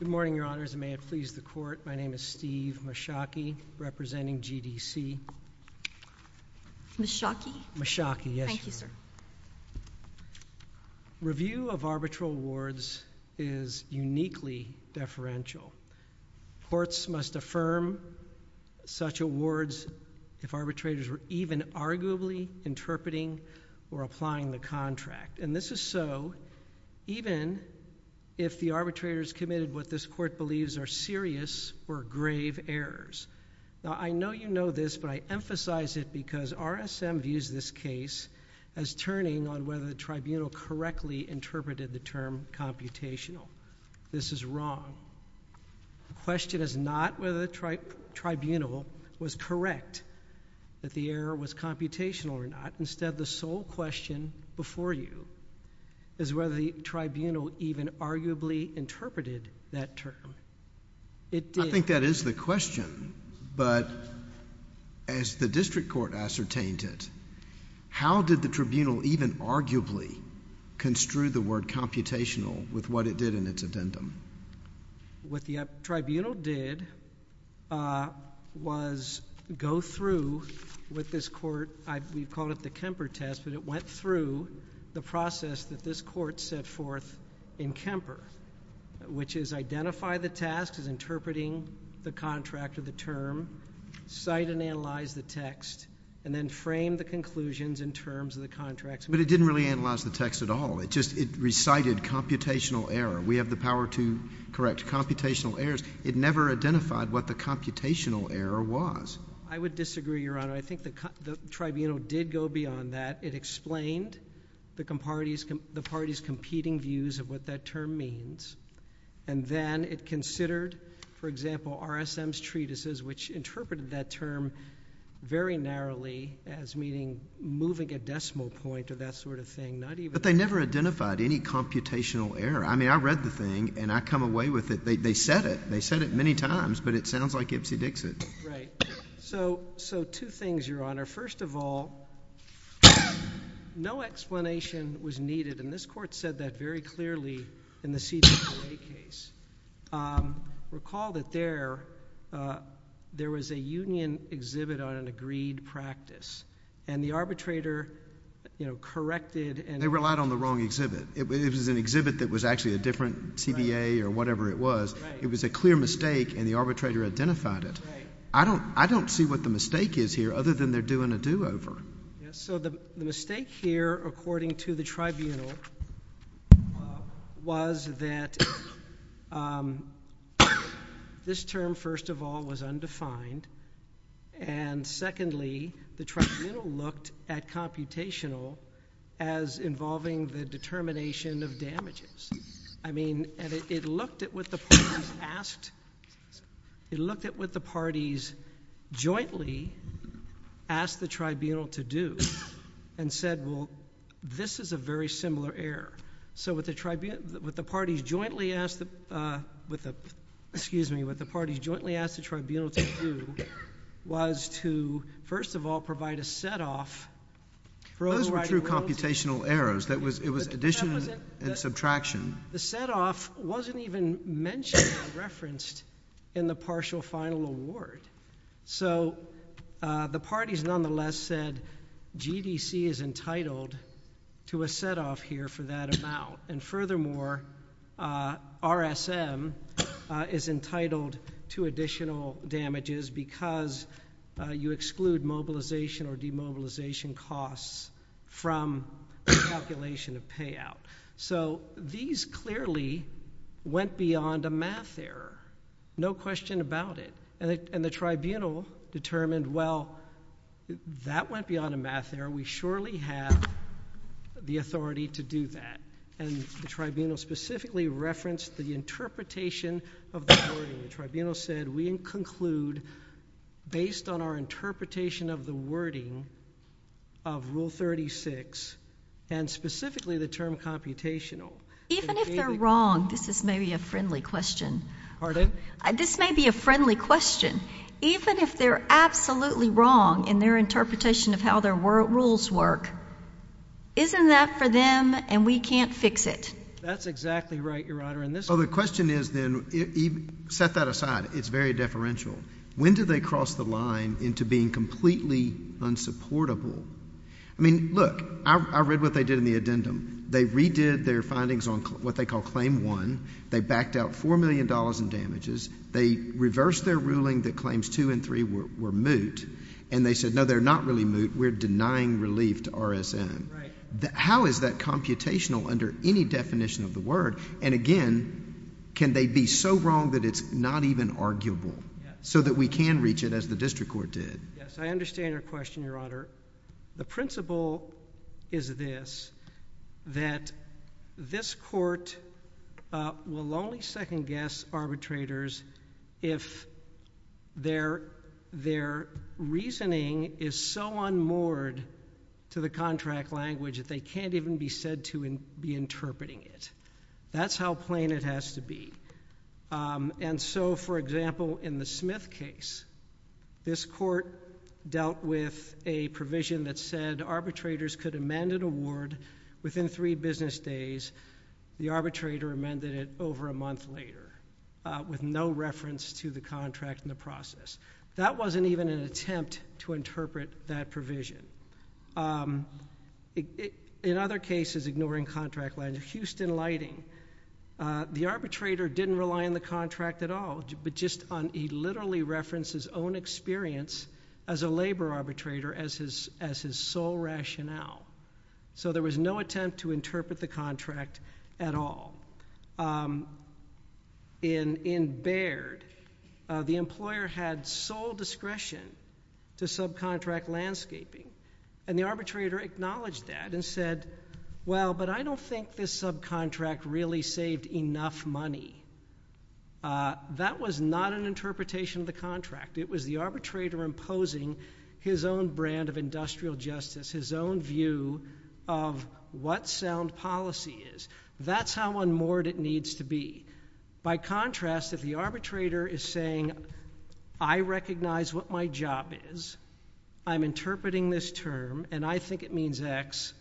Good morning, Your Honors, and may it please the Court, my name is Steve Meschaki, representing GDC. Meschaki? Meschaki, yes. Thank you, sir. Review of arbitral awards is uniquely deferential. Courts must affirm such awards if arbitrators were even arguably interpreting or applying the contract, and this is so even if the arbitrators committed what this Court believes are serious or grave errors. Now, I know you know this, but I emphasize it because RSM views this case as turning on whether the tribunal correctly interpreted the term computational. This is wrong. The question is not whether the tribunal was correct, that the error was computational or not. Instead, the sole question before you is whether the tribunal even arguably interpreted that term. It did. That is the question, but as the district court ascertained it, how did the tribunal even arguably construe the word computational with what it did in its addendum? What the tribunal did was go through with this Court, we call it the Kemper test, but it went through the process that this Court set forth in Kemper, which is identify the task as interpreting the contract or the term, cite and analyze the text, and then frame the conclusions in terms of the contract. But it didn't really analyze the text at all. It just recited computational error. We have the power to correct computational errors. It never identified what the computational error was. I would disagree, Your Honor. I think the tribunal did go beyond that. It explained the parties' competing views of what that term means, and then it considered, for example, RSM's treatises, which interpreted that term very narrowly as meaning moving a decimal point or that sort of thing, not even... But they never identified any computational error. I mean, I read the thing, and I come away with it. They said it. They said it many times, but it sounds like Ipsy Dixit. Right. So, two things, Your Honor. First of all, no explanation was needed, and this Court said that very clearly in the CBA case. Recall that there was a union exhibit on an agreed practice, and the arbitrator corrected... They relied on the wrong exhibit. It was an exhibit that was actually a different CBA or whatever it was. It was a clear mistake, and the arbitrator identified it. I don't see what the mistake is here, other than they're doing a do-over. Yes. So, the mistake here, according to the Tribunal, was that this term, first of all, was undefined, and secondly, the Tribunal looked at computational as involving the determination of damages. I mean, and it looked at what the parties asked... it looked at what the parties jointly asked the Tribunal to do, and said, well, this is a very similar error. So what the parties jointly asked the Tribunal to do was to, first of all, provide a set off for overriding... Those were true computational errors. It was addition and subtraction. The set off wasn't even mentioned or referenced in the partial final award. So the parties, nonetheless, said GDC is entitled to a set off here for that amount, and furthermore, RSM is entitled to additional damages because you exclude mobilization or demobilization costs from the calculation of payout. So these clearly went beyond a math error. No question about it. And the Tribunal determined, well, that went beyond a math error. We surely have the authority to do that, and the Tribunal specifically referenced the interpretation of the wording. The Tribunal said we conclude, based on our interpretation of the wording of Rule 36, and specifically the term computational... Even if they're wrong, this is maybe a friendly question. Pardon? This may be a friendly question. Even if they're absolutely wrong in their interpretation of how their rules work, isn't that for them, and we can't fix it? That's exactly right, Your Honor, and this... So the question is then, set that aside, it's very deferential. When do they cross the line into being completely unsupportable? I mean, look, I read what they did in the addendum. They redid their findings on what they call Claim 1. They backed out $4 million in damages. They reversed their ruling that Claims 2 and 3 were moot, and they said, no, they're not really moot. We're denying relief to RSM. How is that computational under any definition of the word? And again, can they be so wrong that it's not even arguable, so that we can reach it as the district court did? Yes, I understand your question, Your Honor. The principle is this, that this court will only second-guess arbitrators if their reasoning is so unmoored to the contract language that they can't even be said to be interpreting it. That's how plain it has to be. And so, for example, in the Smith case, this court dealt with a provision that said arbitrators could amend an award within three business days. The arbitrator amended it over a month later, with no reference to the contract in the process. That wasn't even an attempt to interpret that provision. In other cases, ignoring contract language, Houston Lighting, the arbitrator didn't rely on the contract at all, but just on—he literally referenced his own experience as a labor arbitrator, as his sole rationale. So there was no attempt to interpret the contract at all. For example, in Baird, the employer had sole discretion to subcontract landscaping, and the arbitrator acknowledged that and said, well, but I don't think this subcontract really saved enough money. That was not an interpretation of the contract. It was the arbitrator imposing his own brand of industrial justice, his own view of what sound policy is. That's how unmoored it needs to be. By contrast, if the arbitrator is saying, I recognize what my job is, I'm interpreting this term, and I think it means X,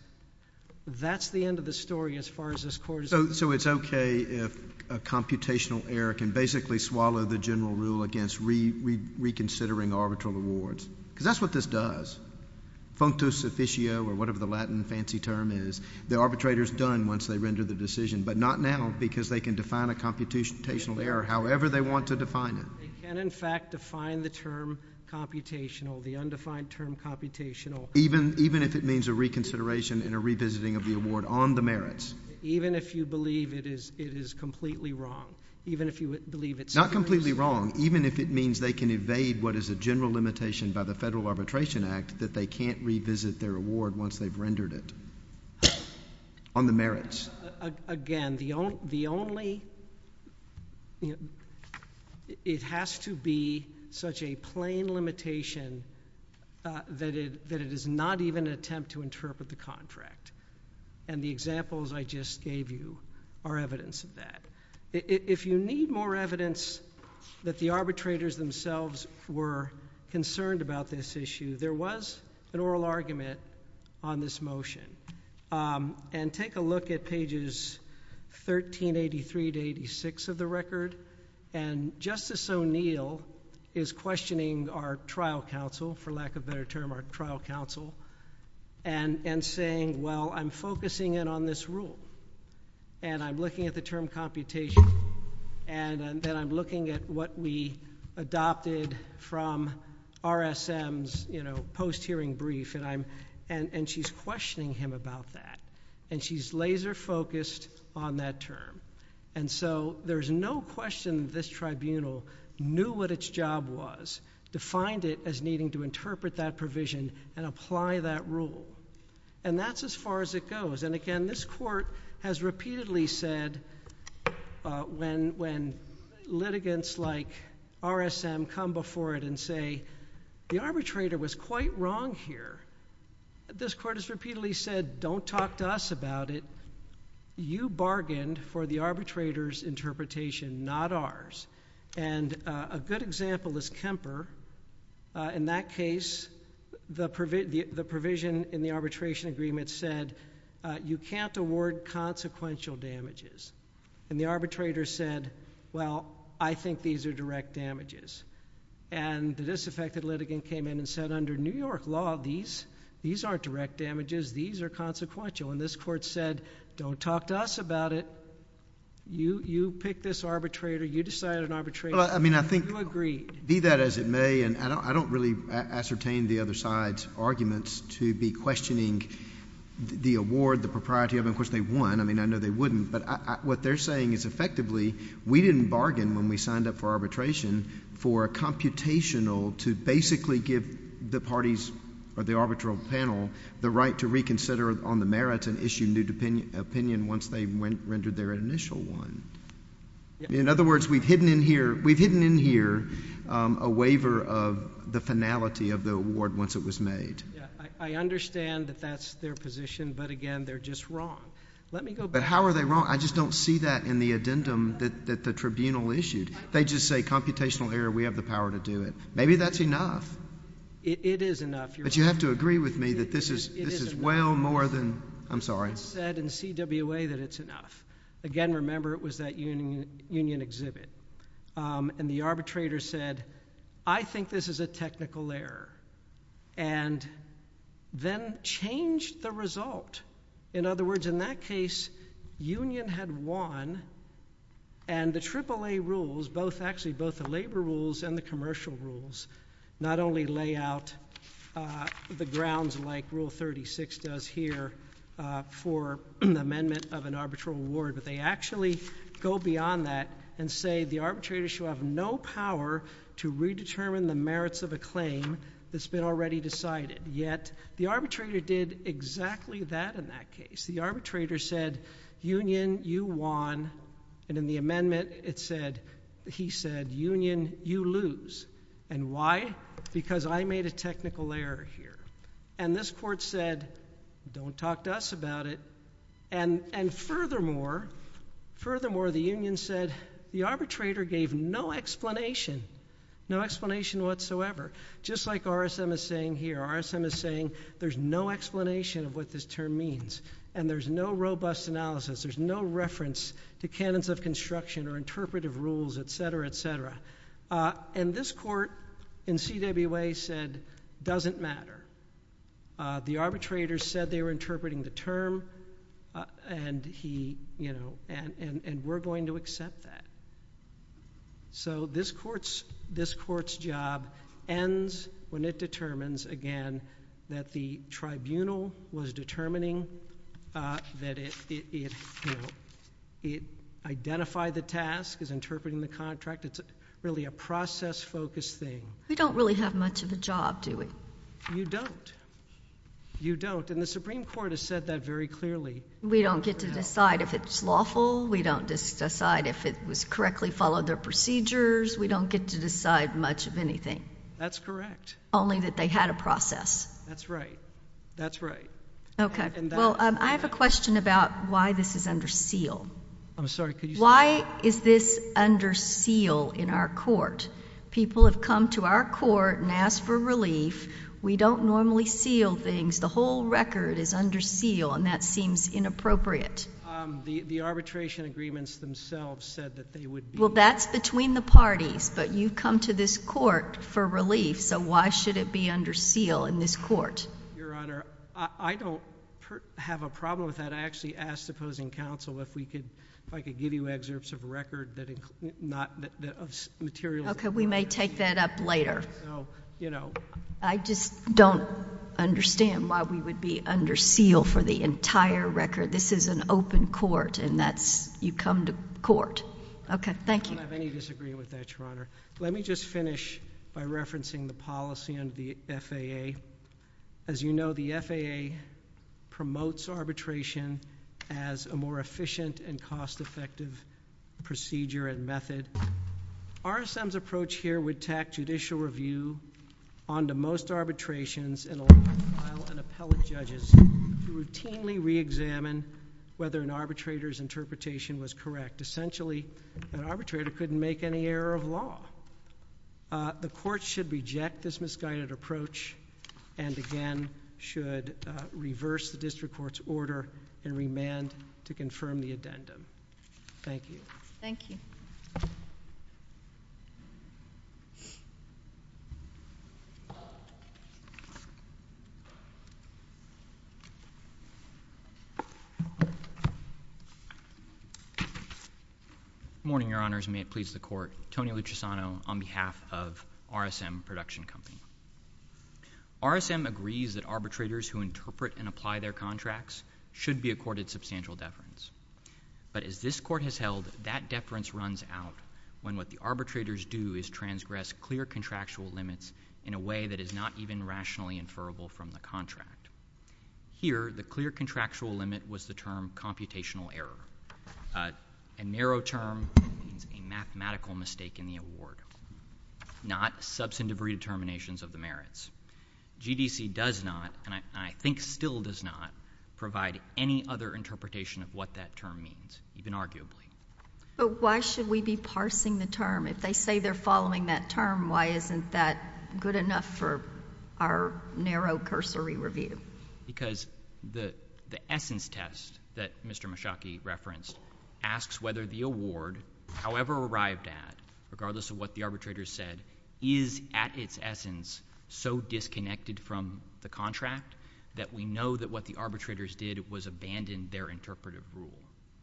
that's the end of the story as far as this court is concerned. So it's okay if a computational error can basically swallow the general rule against reconsidering arbitral awards, because that's what this does, functus officio, or whatever the Latin fancy term is, the arbitrator's done once they render the decision. But not now, because they can define a computational error however they want to define it. They can, in fact, define the term computational, the undefined term computational. Even if it means a reconsideration and a revisiting of the award on the merits. Even if you believe it is completely wrong. Even if you believe it's— Not completely wrong. Even if it means they can evade what is a general limitation by the Federal Arbitration Act that they can't revisit their award once they've rendered it on the merits. Again, the only—it has to be such a plain limitation that it is not even an attempt to interpret the contract. And the examples I just gave you are evidence of that. If you need more evidence that the arbitrators themselves were concerned about this issue, there was an oral argument on this motion. And take a look at pages 1383 to 86 of the record, and Justice O'Neill is questioning our trial counsel, for lack of a better term, our trial counsel, and saying, well, I'm focusing in on this rule, and I'm looking at the term computation, and then I'm looking at what we adopted from RSM's, you know, post-hearing brief, and I'm—and she's questioning him about that. And she's laser-focused on that term. And so, there's no question this tribunal knew what its job was, defined it as needing to interpret that provision and apply that rule. And that's as far as it goes. And again, this Court has repeatedly said, when litigants like RSM come before it and say the arbitrator was quite wrong here, this Court has repeatedly said, don't talk to us about it. You bargained for the arbitrator's interpretation, not ours. And a good example is Kemper. In that case, the provision in the arbitration agreement said, you can't award consequential damages. And the arbitrator said, well, I think these are direct damages. And the disaffected litigant came in and said, under New York law, these aren't direct damages, these are consequential. And this Court said, don't talk to us about it. You pick this arbitrator. You decide an arbitration. You agreed. Be that as it may, and I don't really ascertain the other side's arguments to be questioning the award, the propriety of it. Of course, they won. I mean, I know they wouldn't. But what they're saying is, effectively, we didn't bargain when we signed up for arbitration for a computational to basically give the parties or the arbitral panel the right to reconsider on the merits and issue new opinion once they rendered their initial one. In other words, we've hidden in here a waiver of the finality of the award once it was made. I understand that that's their position, but again, they're just wrong. Let me go back. But how are they wrong? I just don't see that in the addendum that the tribunal issued. They just say, computational error, we have the power to do it. Maybe that's enough. It is enough. But you have to agree with me that this is well more than—I'm sorry. It's said in CWA that it's enough. Again, remember, it was that union exhibit. And the arbitrator said, I think this is a technical error, and then changed the result. In other words, in that case, union had won, and the AAA rules, actually both the labor rules and the commercial rules, not only lay out the grounds like Rule 36 does here for the amendment of an arbitral award, but they actually go beyond that and say the arbitrator should have no power to redetermine the merits of a claim that's been already decided. Yet the arbitrator did exactly that in that case. The arbitrator said, union, you won, and in the amendment, he said, union, you lose. And why? Because I made a technical error here. And this court said, don't talk to us about it. And furthermore, furthermore, the union said the arbitrator gave no explanation, no explanation whatsoever. Just like RSM is saying here, RSM is saying there's no explanation of what this term means, and there's no robust analysis. There's no reference to canons of construction or interpretive rules, et cetera, et cetera. And this court in CWA said, doesn't matter. The arbitrator said they were interpreting the term, and we're going to accept that. So this court's job ends when it determines, again, that the tribunal was determining that it identified the task as interpreting the contract. It's really a process-focused thing. We don't really have much of a job, do we? You don't. You don't. And the Supreme Court has said that very clearly. We don't get to decide if it's lawful. We don't decide if it was correctly followed their procedures. We don't get to decide much of anything. That's correct. Only that they had a process. That's right. That's right. OK. Well, I have a question about why this is under seal. I'm sorry. Why is this under seal in our court? People have come to our court and asked for relief. We don't normally seal things. The whole record is under seal, and that seems inappropriate. The arbitration agreements themselves said that they would be. Well, that's between the parties. But you've come to this court for relief, so why should it be under seal in this court? Your Honor, I don't have a problem with that. I actually asked opposing counsel if I could give you excerpts of a record of materials. OK, we may take that up later. I just don't understand why we would be under seal for the entire record. This is an open court, and you come to court. OK, thank you. I don't have any disagreement with that, Your Honor. Let me just finish by referencing the policy under the FAA. As you know, the FAA promotes arbitration as a more efficient and cost-effective procedure and method. RSM's approach here would tack judicial review onto most arbitrations and allow an appellate judge to routinely re-examine whether an arbitrator's interpretation was correct. Essentially, an arbitrator couldn't make any error of law. The court should reject this misguided approach and, again, should reverse the district court's order and remand to confirm the addendum. Thank you. Thank you. Good morning, Your Honors, and may it please the court. Tony Luchisano on behalf of RSM Production Company. RSM agrees that arbitrators who interpret and apply their contracts should be accorded substantial deference. But as this court has held, that deference runs out when what the arbitrators do is transgress clear contractual limits in a way that is not even rationally inferable from the contract. Here, the clear contractual limit was the term computational error. A narrow term means a mathematical mistake in the award, not substantive redeterminations of the merits. GDC does not, and I think still does not, provide any other interpretation of what that term means, even arguably. But why should we be parsing the term? If they say they're following that term, why isn't that good enough for our narrow cursory review? Because the essence test that Mr. Mishaki referenced asks whether the award, however arrived at, regardless of what the arbitrators said, is at its essence so disconnected from the contract that we know that what the arbitrators did was abandon their interpretive rule.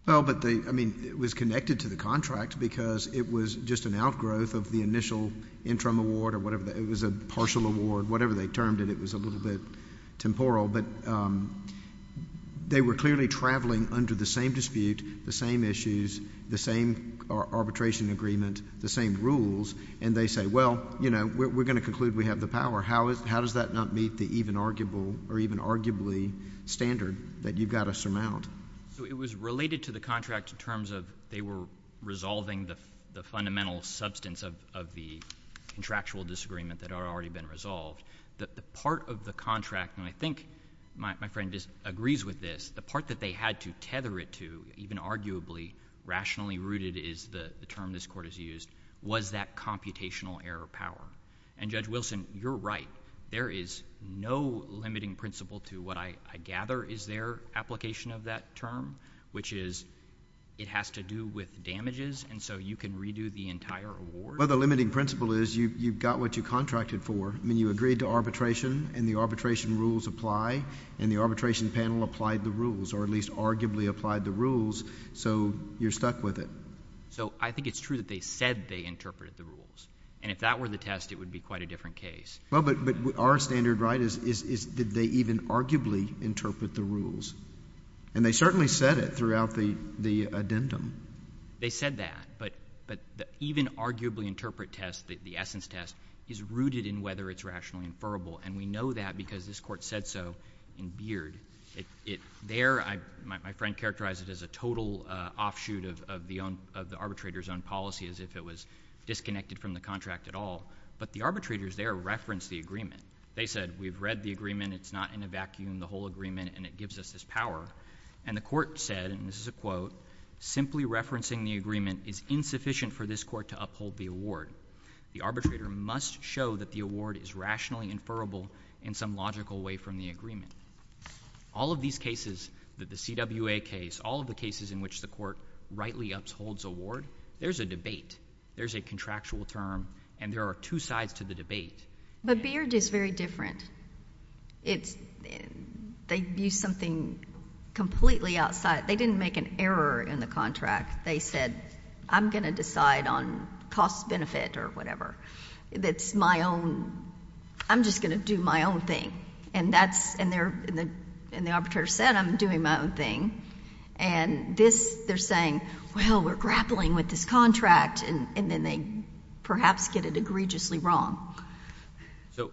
Well, but they, I mean, it was connected to the contract because it was just an outgrowth of the initial interim award or whatever. It was a partial award, whatever they termed it. It was a little bit temporal, but they were clearly traveling under the same dispute, the same issues, the same arbitration agreement, the same rules. And they say, well, we're going to conclude we have the power. How does that not meet the even arguable or even arguably standard that you've got to surmount? So it was related to the contract in terms of they were resolving the fundamental substance of the contractual disagreement that had already been resolved. The part of the contract, and I think my friend agrees with this, the part that they had to tether it to, even arguably, rationally rooted is the term this court has used, was that computational error power. And Judge Wilson, you're right. There is no limiting principle to what I gather is their application of that term, which is it has to do with damages, and so you can redo the entire award. Well, the limiting principle is you've got what you contracted for. I mean, you agreed to arbitration, and the arbitration rules apply, and the arbitration panel applied the rules, or at least arguably applied the rules, so you're stuck with it. So I think it's true that they said they interpreted the rules. And if that were the test, it would be quite a different case. Well, but our standard, right, is did they even arguably interpret the rules? And they certainly said it throughout the addendum. They said that, but the even arguably interpret test, the essence test, is rooted in whether it's rationally inferable. And we know that because this court said so in Beard. There, my friend characterized it as a total offshoot of the arbitrator's own policy as if it was disconnected from the contract at all. But the arbitrators there referenced the agreement. They said, we've read the agreement. It's not in a vacuum, the whole agreement, and it gives us this power. And the court said, and this is a quote, simply referencing the agreement is insufficient for this court to uphold the award. The arbitrator must show that the award is rationally inferable in some logical way from the agreement. All of these cases, the CWA case, all of the cases in which the court rightly upholds award, there's a debate. There's a contractual term, and there are two sides to the debate. But Beard is very different. It's, they use something completely outside, they didn't make an error in the contract. They said, I'm going to decide on cost benefit or whatever. That's my own, I'm just going to do my own thing. And that's, and the arbitrator said, I'm doing my own thing. And this, they're saying, well, we're grappling with this contract, and then they perhaps get it egregiously wrong. So,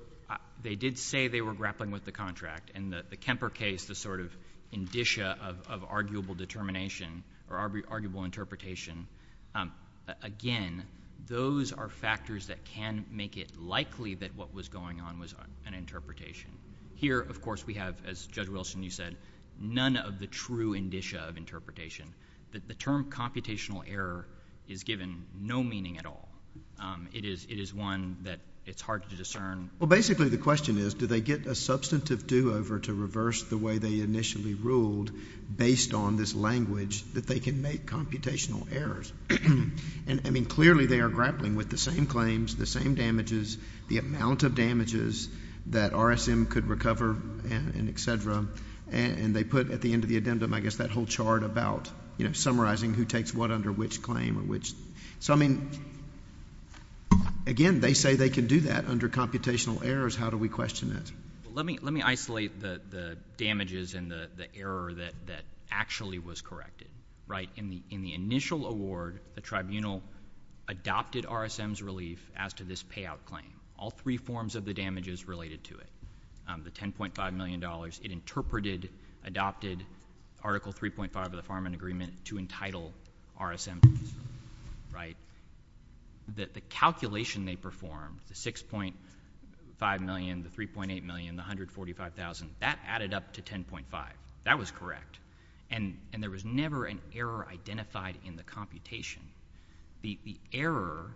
they did say they were grappling with the contract, and the Kemper case, the sort of indicia of arguable determination, or arguable interpretation. Again, those are factors that can make it likely that what was going on was an interpretation. Here, of course, we have, as Judge Wilson, you said, none of the true indicia of interpretation. That the term computational error is given no meaning at all. It is one that it's hard to discern. Well, basically the question is, do they get a substantive do-over to reverse the way they initially ruled based on this language that they can make computational errors? And I mean, clearly they are grappling with the same claims, the same damages, the amount of damages that RSM could recover, and et cetera. And they put at the end of the addendum, I guess, that whole chart about summarizing who takes what under which claim or which. So, I mean, again, they say they can do that under computational errors. How do we question it? Let me isolate the damages and the error that actually was corrected, right? In the initial award, the tribunal adopted RSM's relief as to this payout claim. All three forms of the damages related to it. The $10.5 million, it interpreted, adopted Article 3.5 of the Farm and Agreement to entitle RSM. Right? That the calculation they performed, the 6.5 million, the 3.8 million, the 145,000, that added up to 10.5. That was correct. And there was never an error identified in the computation. The error,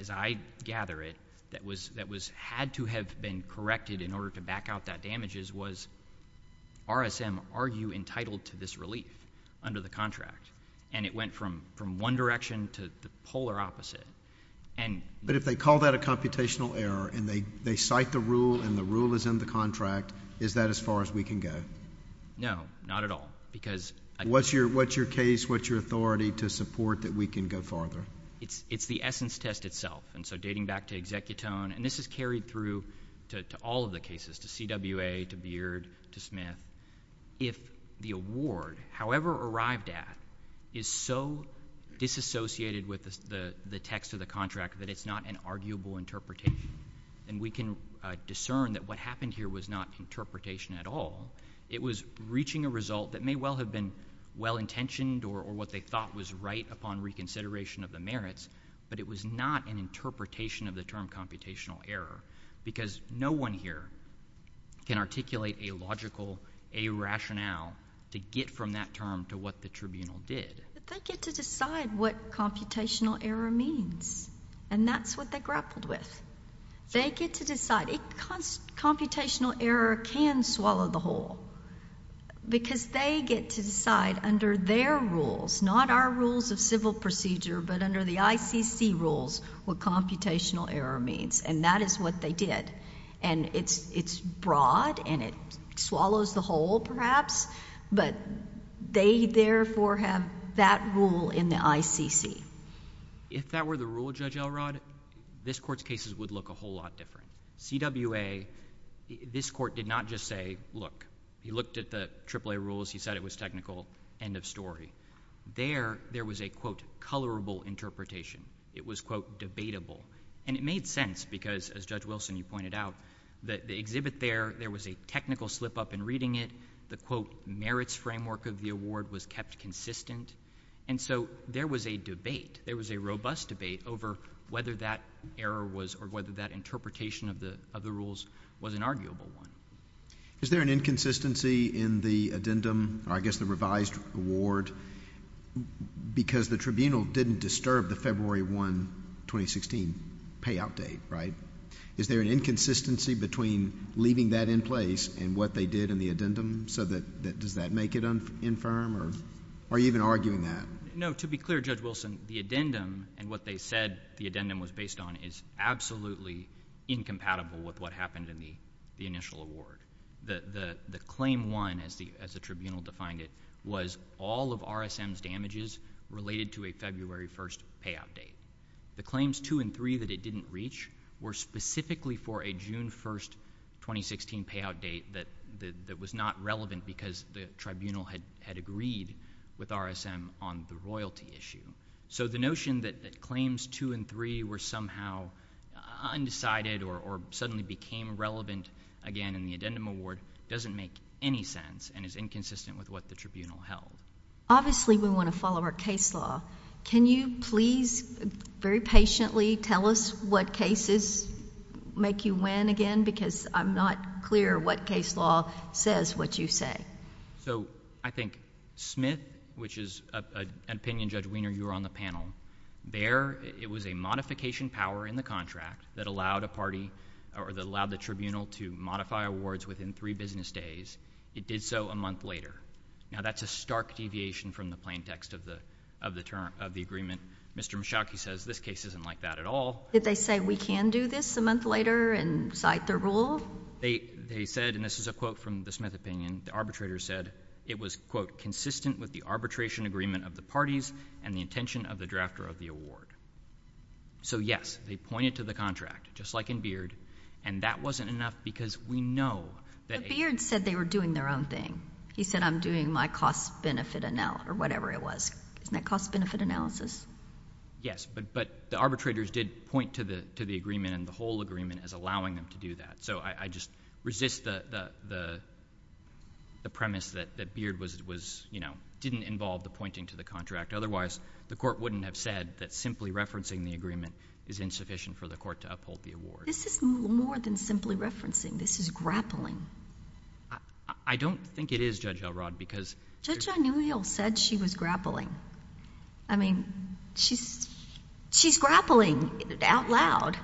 as I gather it, that had to have been corrected in order to back out that damages was RSM, are you entitled to this relief under the contract? And it went from one direction to the polar opposite. And- But if they call that a computational error, and they cite the rule, and the rule is in the contract, is that as far as we can go? No, not at all. Because- What's your case? What's your authority to support that we can go farther? It's the essence test itself. And so, dating back to Executone, and this is carried through to all of the cases, to CWA, to Beard, to Smith. If the award, however arrived at, is so disassociated with the text of the contract that it's not an arguable interpretation, then we can discern that what happened here was not interpretation at all. It was reaching a result that may well have been well-intentioned, or what they thought was right upon reconsideration of the merits, but it was not an interpretation of the term computational error. Because no one here can articulate a logical, a rationale to get from that term to what the tribunal did. But they get to decide what computational error means. And that's what they grappled with. They get to decide. Computational error can swallow the whole, because they get to decide under their rules, not our rules of civil procedure, but under the ICC rules, what computational error means. And that is what they did. And it's broad, and it swallows the whole, perhaps, but they, therefore, have that rule in the ICC. If that were the rule, Judge Elrod, this Court's cases would look a whole lot different. CWA, this Court did not just say, look, he looked at the AAA rules, he said it was technical, end of story. There, there was a, quote, colorable interpretation. It was, quote, debatable. And it made sense, because, as Judge Wilson, you pointed out, that the exhibit there, there was a technical slip-up in reading it. The, quote, merits framework of the award was kept consistent. And so, there was a debate. There was a robust debate over whether that error was, or whether that interpretation of the, of the rules was an arguable one. Is there an inconsistency in the addendum, or I guess the revised award, because the tribunal didn't disturb the February 1, 2016, payout date, right? Is there an inconsistency between leaving that in place, and what they did in the addendum, so that, that, does that make it un, infirm, or, are you even arguing that? No, to be clear, Judge Wilson, the addendum, and what they said the addendum was based on, is absolutely incompatible with what happened in the, the initial award. The, the, the claim one, as the, as the tribunal defined it, was all of RSM's damages related to a February 1st payout date. The claims two and three that it didn't reach were specifically for a June 1st, 2016 payout date that, that, that was not relevant because the tribunal had, had agreed with RSM on the royalty issue. So, the notion that, that claims two and three were somehow undecided, or, or suddenly became relevant again in the addendum award, doesn't make any sense, and is inconsistent with what the tribunal held. Obviously, we want to follow our case law. Can you please, very patiently, tell us what cases make you win again? Because I'm not clear what case law says what you say. So, I think Smith, which is a, a, an opinion, Judge Wiener, you were on the panel. There, it was a modification power in the contract that allowed a party, or that allowed the tribunal to modify awards within three business days. It did so a month later. Now, that's a stark deviation from the plain text of the, of the term, of the agreement. Mr. Michalki says, this case isn't like that at all. Did they say, we can do this a month later and cite the rule? They, they said, and this is a quote from the Smith opinion, the arbitrator said, it was, quote, consistent with the arbitration agreement of the parties and the intention of the drafter of the award. So yes, they pointed to the contract, just like in Beard, and that wasn't enough because we know that- But Beard said they were doing their own thing. He said, I'm doing my cost-benefit analysis, or whatever it was. Isn't that cost-benefit analysis? Yes, but, but the arbitrators did point to the, to the agreement and the whole agreement as allowing them to do that. So, I, I just resist the, the, the, the premise that, that Beard was, was, you know, didn't involve the pointing to the contract. Otherwise, the court wouldn't have said that simply referencing the agreement is insufficient for the court to uphold the award. This is more than simply referencing. This is grappling. I, I don't think it is, Judge Elrod, because- Judge O'Neill said she was grappling. I mean, she's, she's grappling out loud.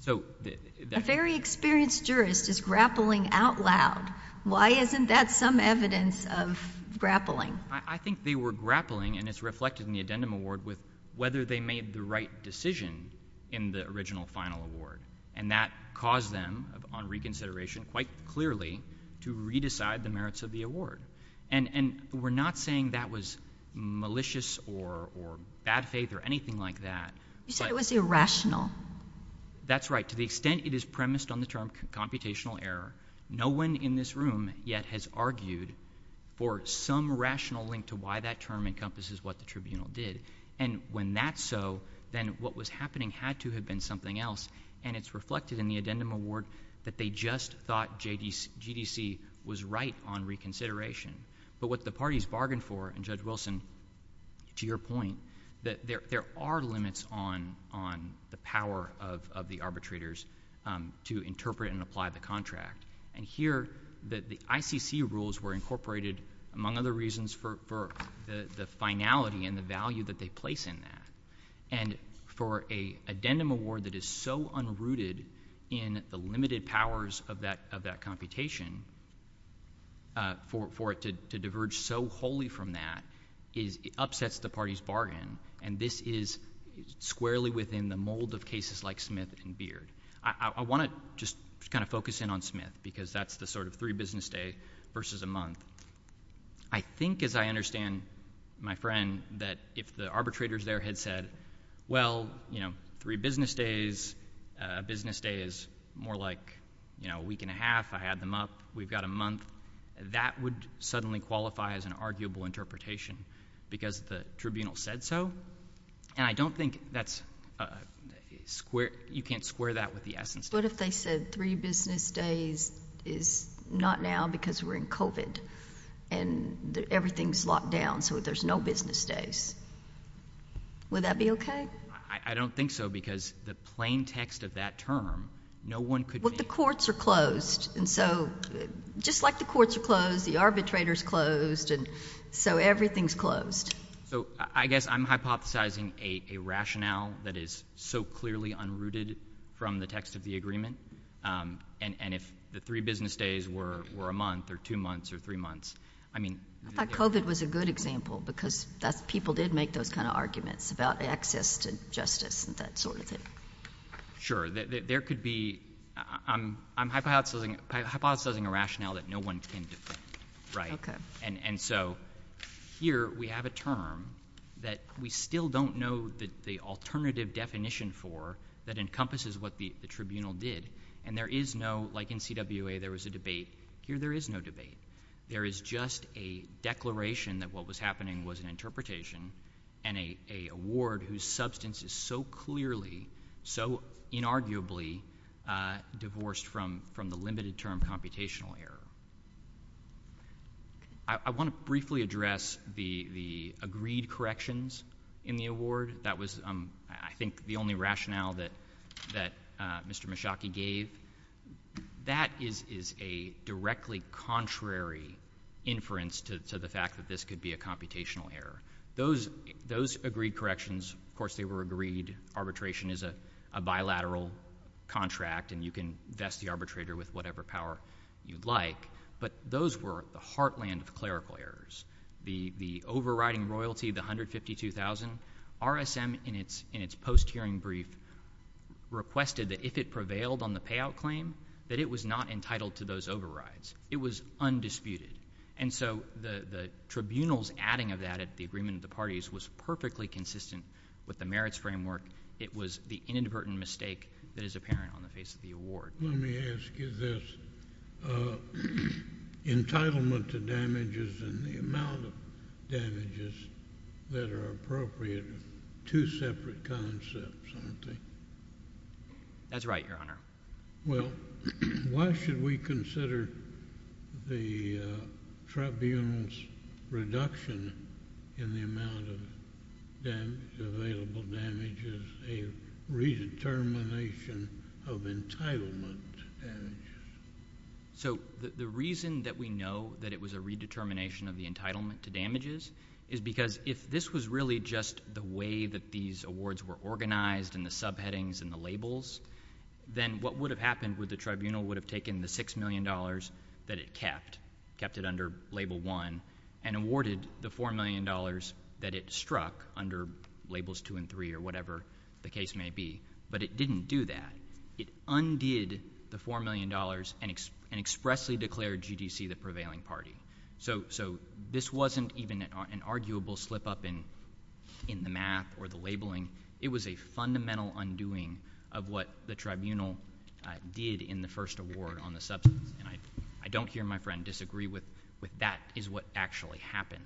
So, the- A very experienced jurist is grappling out loud. Why isn't that some evidence of grappling? I, I think they were grappling, and it's reflected in the addendum award, with whether they made the right decision in the original final award. And that caused them, on reconsideration, quite clearly to re-decide the merits of the award. And, and we're not saying that was malicious or, or bad faith or anything like that. You said it was irrational. That's right. To the extent it is premised on the term computational error, no one in this room yet has argued for some rational link to why that term encompasses what the tribunal did. And when that's so, then what was happening had to have been something else. And it's reflected in the addendum award that they just thought JDC, GDC was right on reconsideration. But what the parties bargained for, and Judge Wilson, to your point, that there, there are limits on, on the power of, of the arbitrators to interpret and apply the contract. And here, the, the ICC rules were incorporated, among other reasons, for, for the, the finality and the value that they place in that. And for a addendum award that is so unrooted in the limited powers of that, of that computation, for, for it to, to diverge so wholly from that, is, it upsets the party's bargain. And this is squarely within the mold of cases like Smith and Beard. I, I want to just kind of focus in on Smith, because that's the sort of three business day versus a month. I think, as I understand, my friend, that if the arbitrators there had said, well, you know, three business days, a business day is more like, you know, a week and a half, I had them up, we've got a month. That would suddenly qualify as an arguable interpretation, because the tribunal said so. And I don't think that's a square, you can't square that with the essence. What if they said three business days is not now because we're in COVID and everything's locked down, so there's no business days? Would that be OK? I don't think so, because the plain text of that term, no one could. Well, the courts are closed. And so just like the courts are closed, the arbitrators closed. And so everything's closed. So I guess I'm hypothesizing a rationale that is so clearly unrooted from the text of the agreement. And if the three business days were a month or two months or three months, I mean. I thought COVID was a good example, because people did make those kind of arguments about access to justice and that sort of thing. Sure, there could be, I'm hypothesizing a rationale that no one can defend, right? OK. And so here we have a term that we still don't know the alternative definition for that encompasses what the tribunal did. And there is no, like in CWA there was a debate, here there is no debate. There is just a declaration that what was happening was an interpretation. And a award whose substance is so clearly, so inarguably divorced from the limited term computational error. I want to briefly address the agreed corrections in the award. That was, I think, the only rationale that Mr. Mushaki gave. That is a directly contrary inference to the fact that this could be a computational error. Those agreed corrections, of course, they were agreed. Arbitration is a bilateral contract. And you can vest the arbitrator with whatever power you'd like. But those were the heartland of clerical errors. The overriding royalty, the $152,000, RSM in its post-hearing brief requested that if it prevailed on the payout claim, that it was not entitled to those overrides. It was undisputed. And so the tribunal's adding of that at the agreement of the parties was perfectly consistent with the merits framework. It was the inadvertent mistake that is apparent on the face of the award. Let me ask you this. Entitlement to damages and the amount of damages that are appropriate are two separate concepts, aren't they? That's right, Your Honor. Well, why should we consider the tribunal's reduction in the amount of available damages a redetermination of entitlement to damages? So the reason that we know that it was a redetermination of the entitlement to damages is because if this was really just the way that these awards were organized and the subheadings and the labels, then what would have happened with the tribunal would have taken the $6 million that it kept, kept it under label one, and awarded the $4 million that it struck under labels two and three or whatever the case may be. But it didn't do that. It undid the $4 million and expressly declared GDC the prevailing party. So this wasn't even an arguable slip up in the map or the labeling. It was a fundamental undoing of what the tribunal did in the first award on the substance. And I don't hear my friend disagree with that is what actually happened.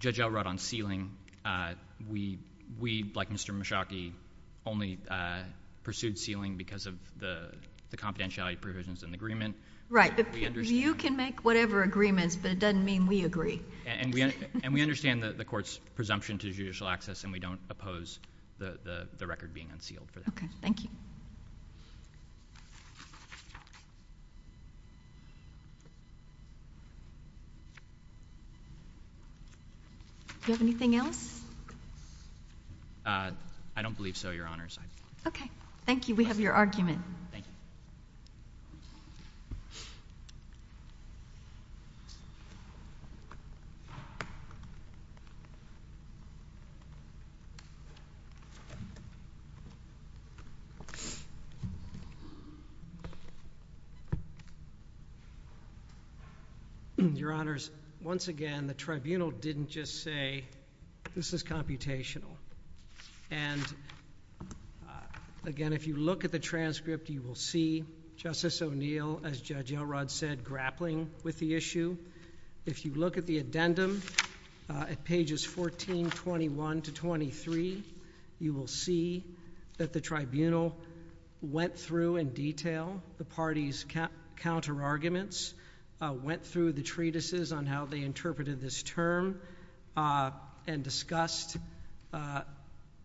Judge Elrod on sealing, we, like Mr. Mushaki, only pursued sealing because of the confidentiality provisions in the agreement. Right. You can make whatever agreements, but it doesn't mean we agree. And we understand the court's presumption to judicial access, and we don't oppose the record being unsealed for that. Okay, thank you. Do you have anything else? I don't believe so, Your Honors. Okay, thank you. We have your argument. Thank you. Your Honors, once again, the tribunal didn't just say, this is computational. And again, if you look at the transcript, you will see Justice O'Neill, as Judge Elrod said, grappling with the issue. If you look at the addendum, at pages 1421 to 23, you will see that the tribunal went through in detail the party's counterarguments. Went through the treatises on how they interpreted this term. And discussed,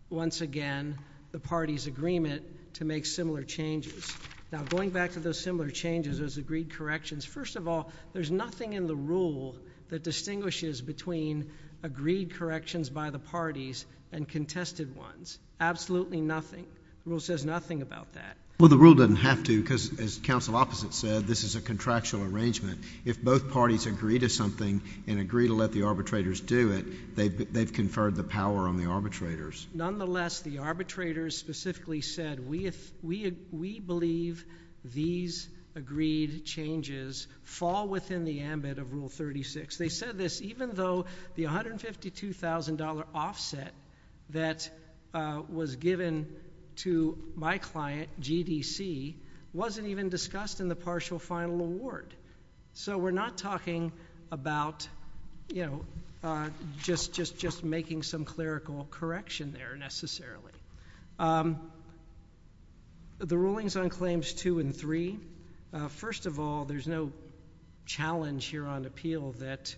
once again, the party's agreement to make similar changes. Now, going back to those similar changes, those agreed corrections. First of all, there's nothing in the rule that distinguishes between agreed corrections by the parties and contested ones. Absolutely nothing. Rule says nothing about that. Well, the rule doesn't have to, because as counsel opposite said, this is a contractual arrangement. If both parties agree to something and agree to let the arbitrators do it, they've conferred the power on the arbitrators. Nonetheless, the arbitrators specifically said, we believe these agreed changes fall within the ambit of Rule 36. They said this even though the $152,000 offset that was given to my client, GDC, wasn't even discussed in the partial final award. So we're not talking about, you know, just making some clerical correction there necessarily. The rulings on claims two and three, first of all, there's no challenge here on appeal that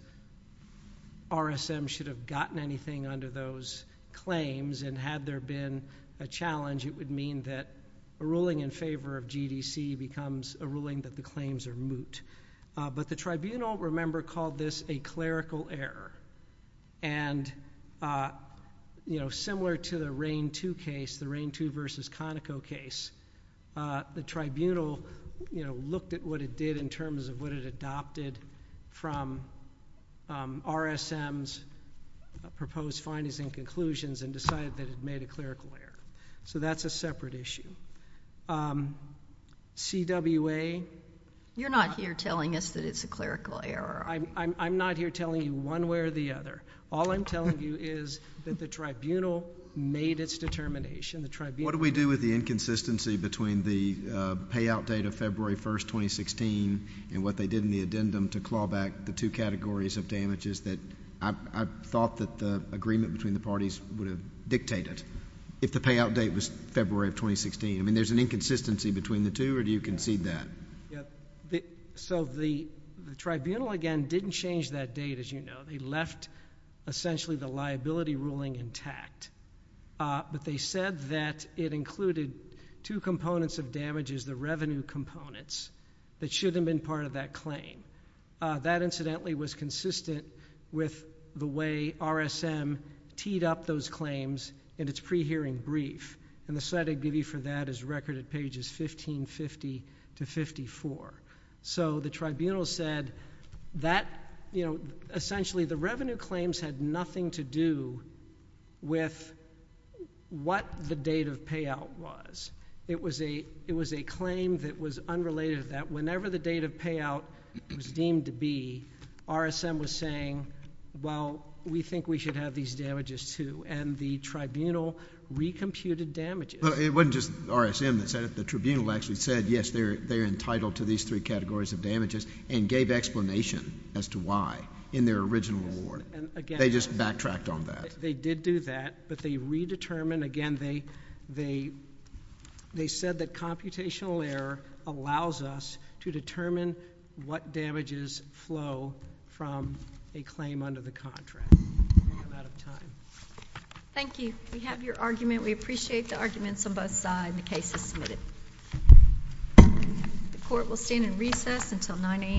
RSM should have gotten anything under those claims. And had there been a challenge, it would mean that a ruling in favor of GDC becomes a ruling that the claims are moot. But the tribunal, remember, called this a clerical error. And, you know, similar to the Reign II case, the Reign II versus Conoco case, the tribunal, you know, looked at what it did in terms of what it adopted from RSM's proposed findings and conclusions and decided that it made a clerical error. So that's a separate issue. CWA— You're not here telling us that it's a clerical error. I'm not here telling you one way or the other. All I'm telling you is that the tribunal made its determination. The tribunal— What do we do with the inconsistency between the payout date of February 1, 2016, and what they did in the addendum to claw back the two categories of damages that I thought that the agreement between the parties would have dictated, if the payout date was February of 2016? I mean, there's an inconsistency between the two, or do you concede that? Yeah. So the tribunal, again, didn't change that date, as you know. They left, essentially, the liability ruling intact. But they said that it included two components of damages, the revenue components, that should have been part of that claim. That, incidentally, was consistent with the way RSM teed up those claims in its pre-hearing brief. And the site I give you for that is record at pages 1550 to 54. So the tribunal said that, essentially, the revenue claims had nothing to do with what the date of payout was. It was a claim that was unrelated to that. Whenever the date of payout was deemed to be, RSM was saying, well, we think we should have these damages, too. And the tribunal recomputed damages. It wasn't just RSM that said it. The tribunal actually said, yes, they're entitled to these three categories of damages, and gave explanation as to why in their original award. They just backtracked on that. They did do that, but they redetermined. Again, they said that computational error allows us to determine what damages flow from a claim under the contract. I'm out of time. Thank you. We have your argument. We appreciate the arguments on both sides. The case is submitted. The court will stand in recess until 9 a.m.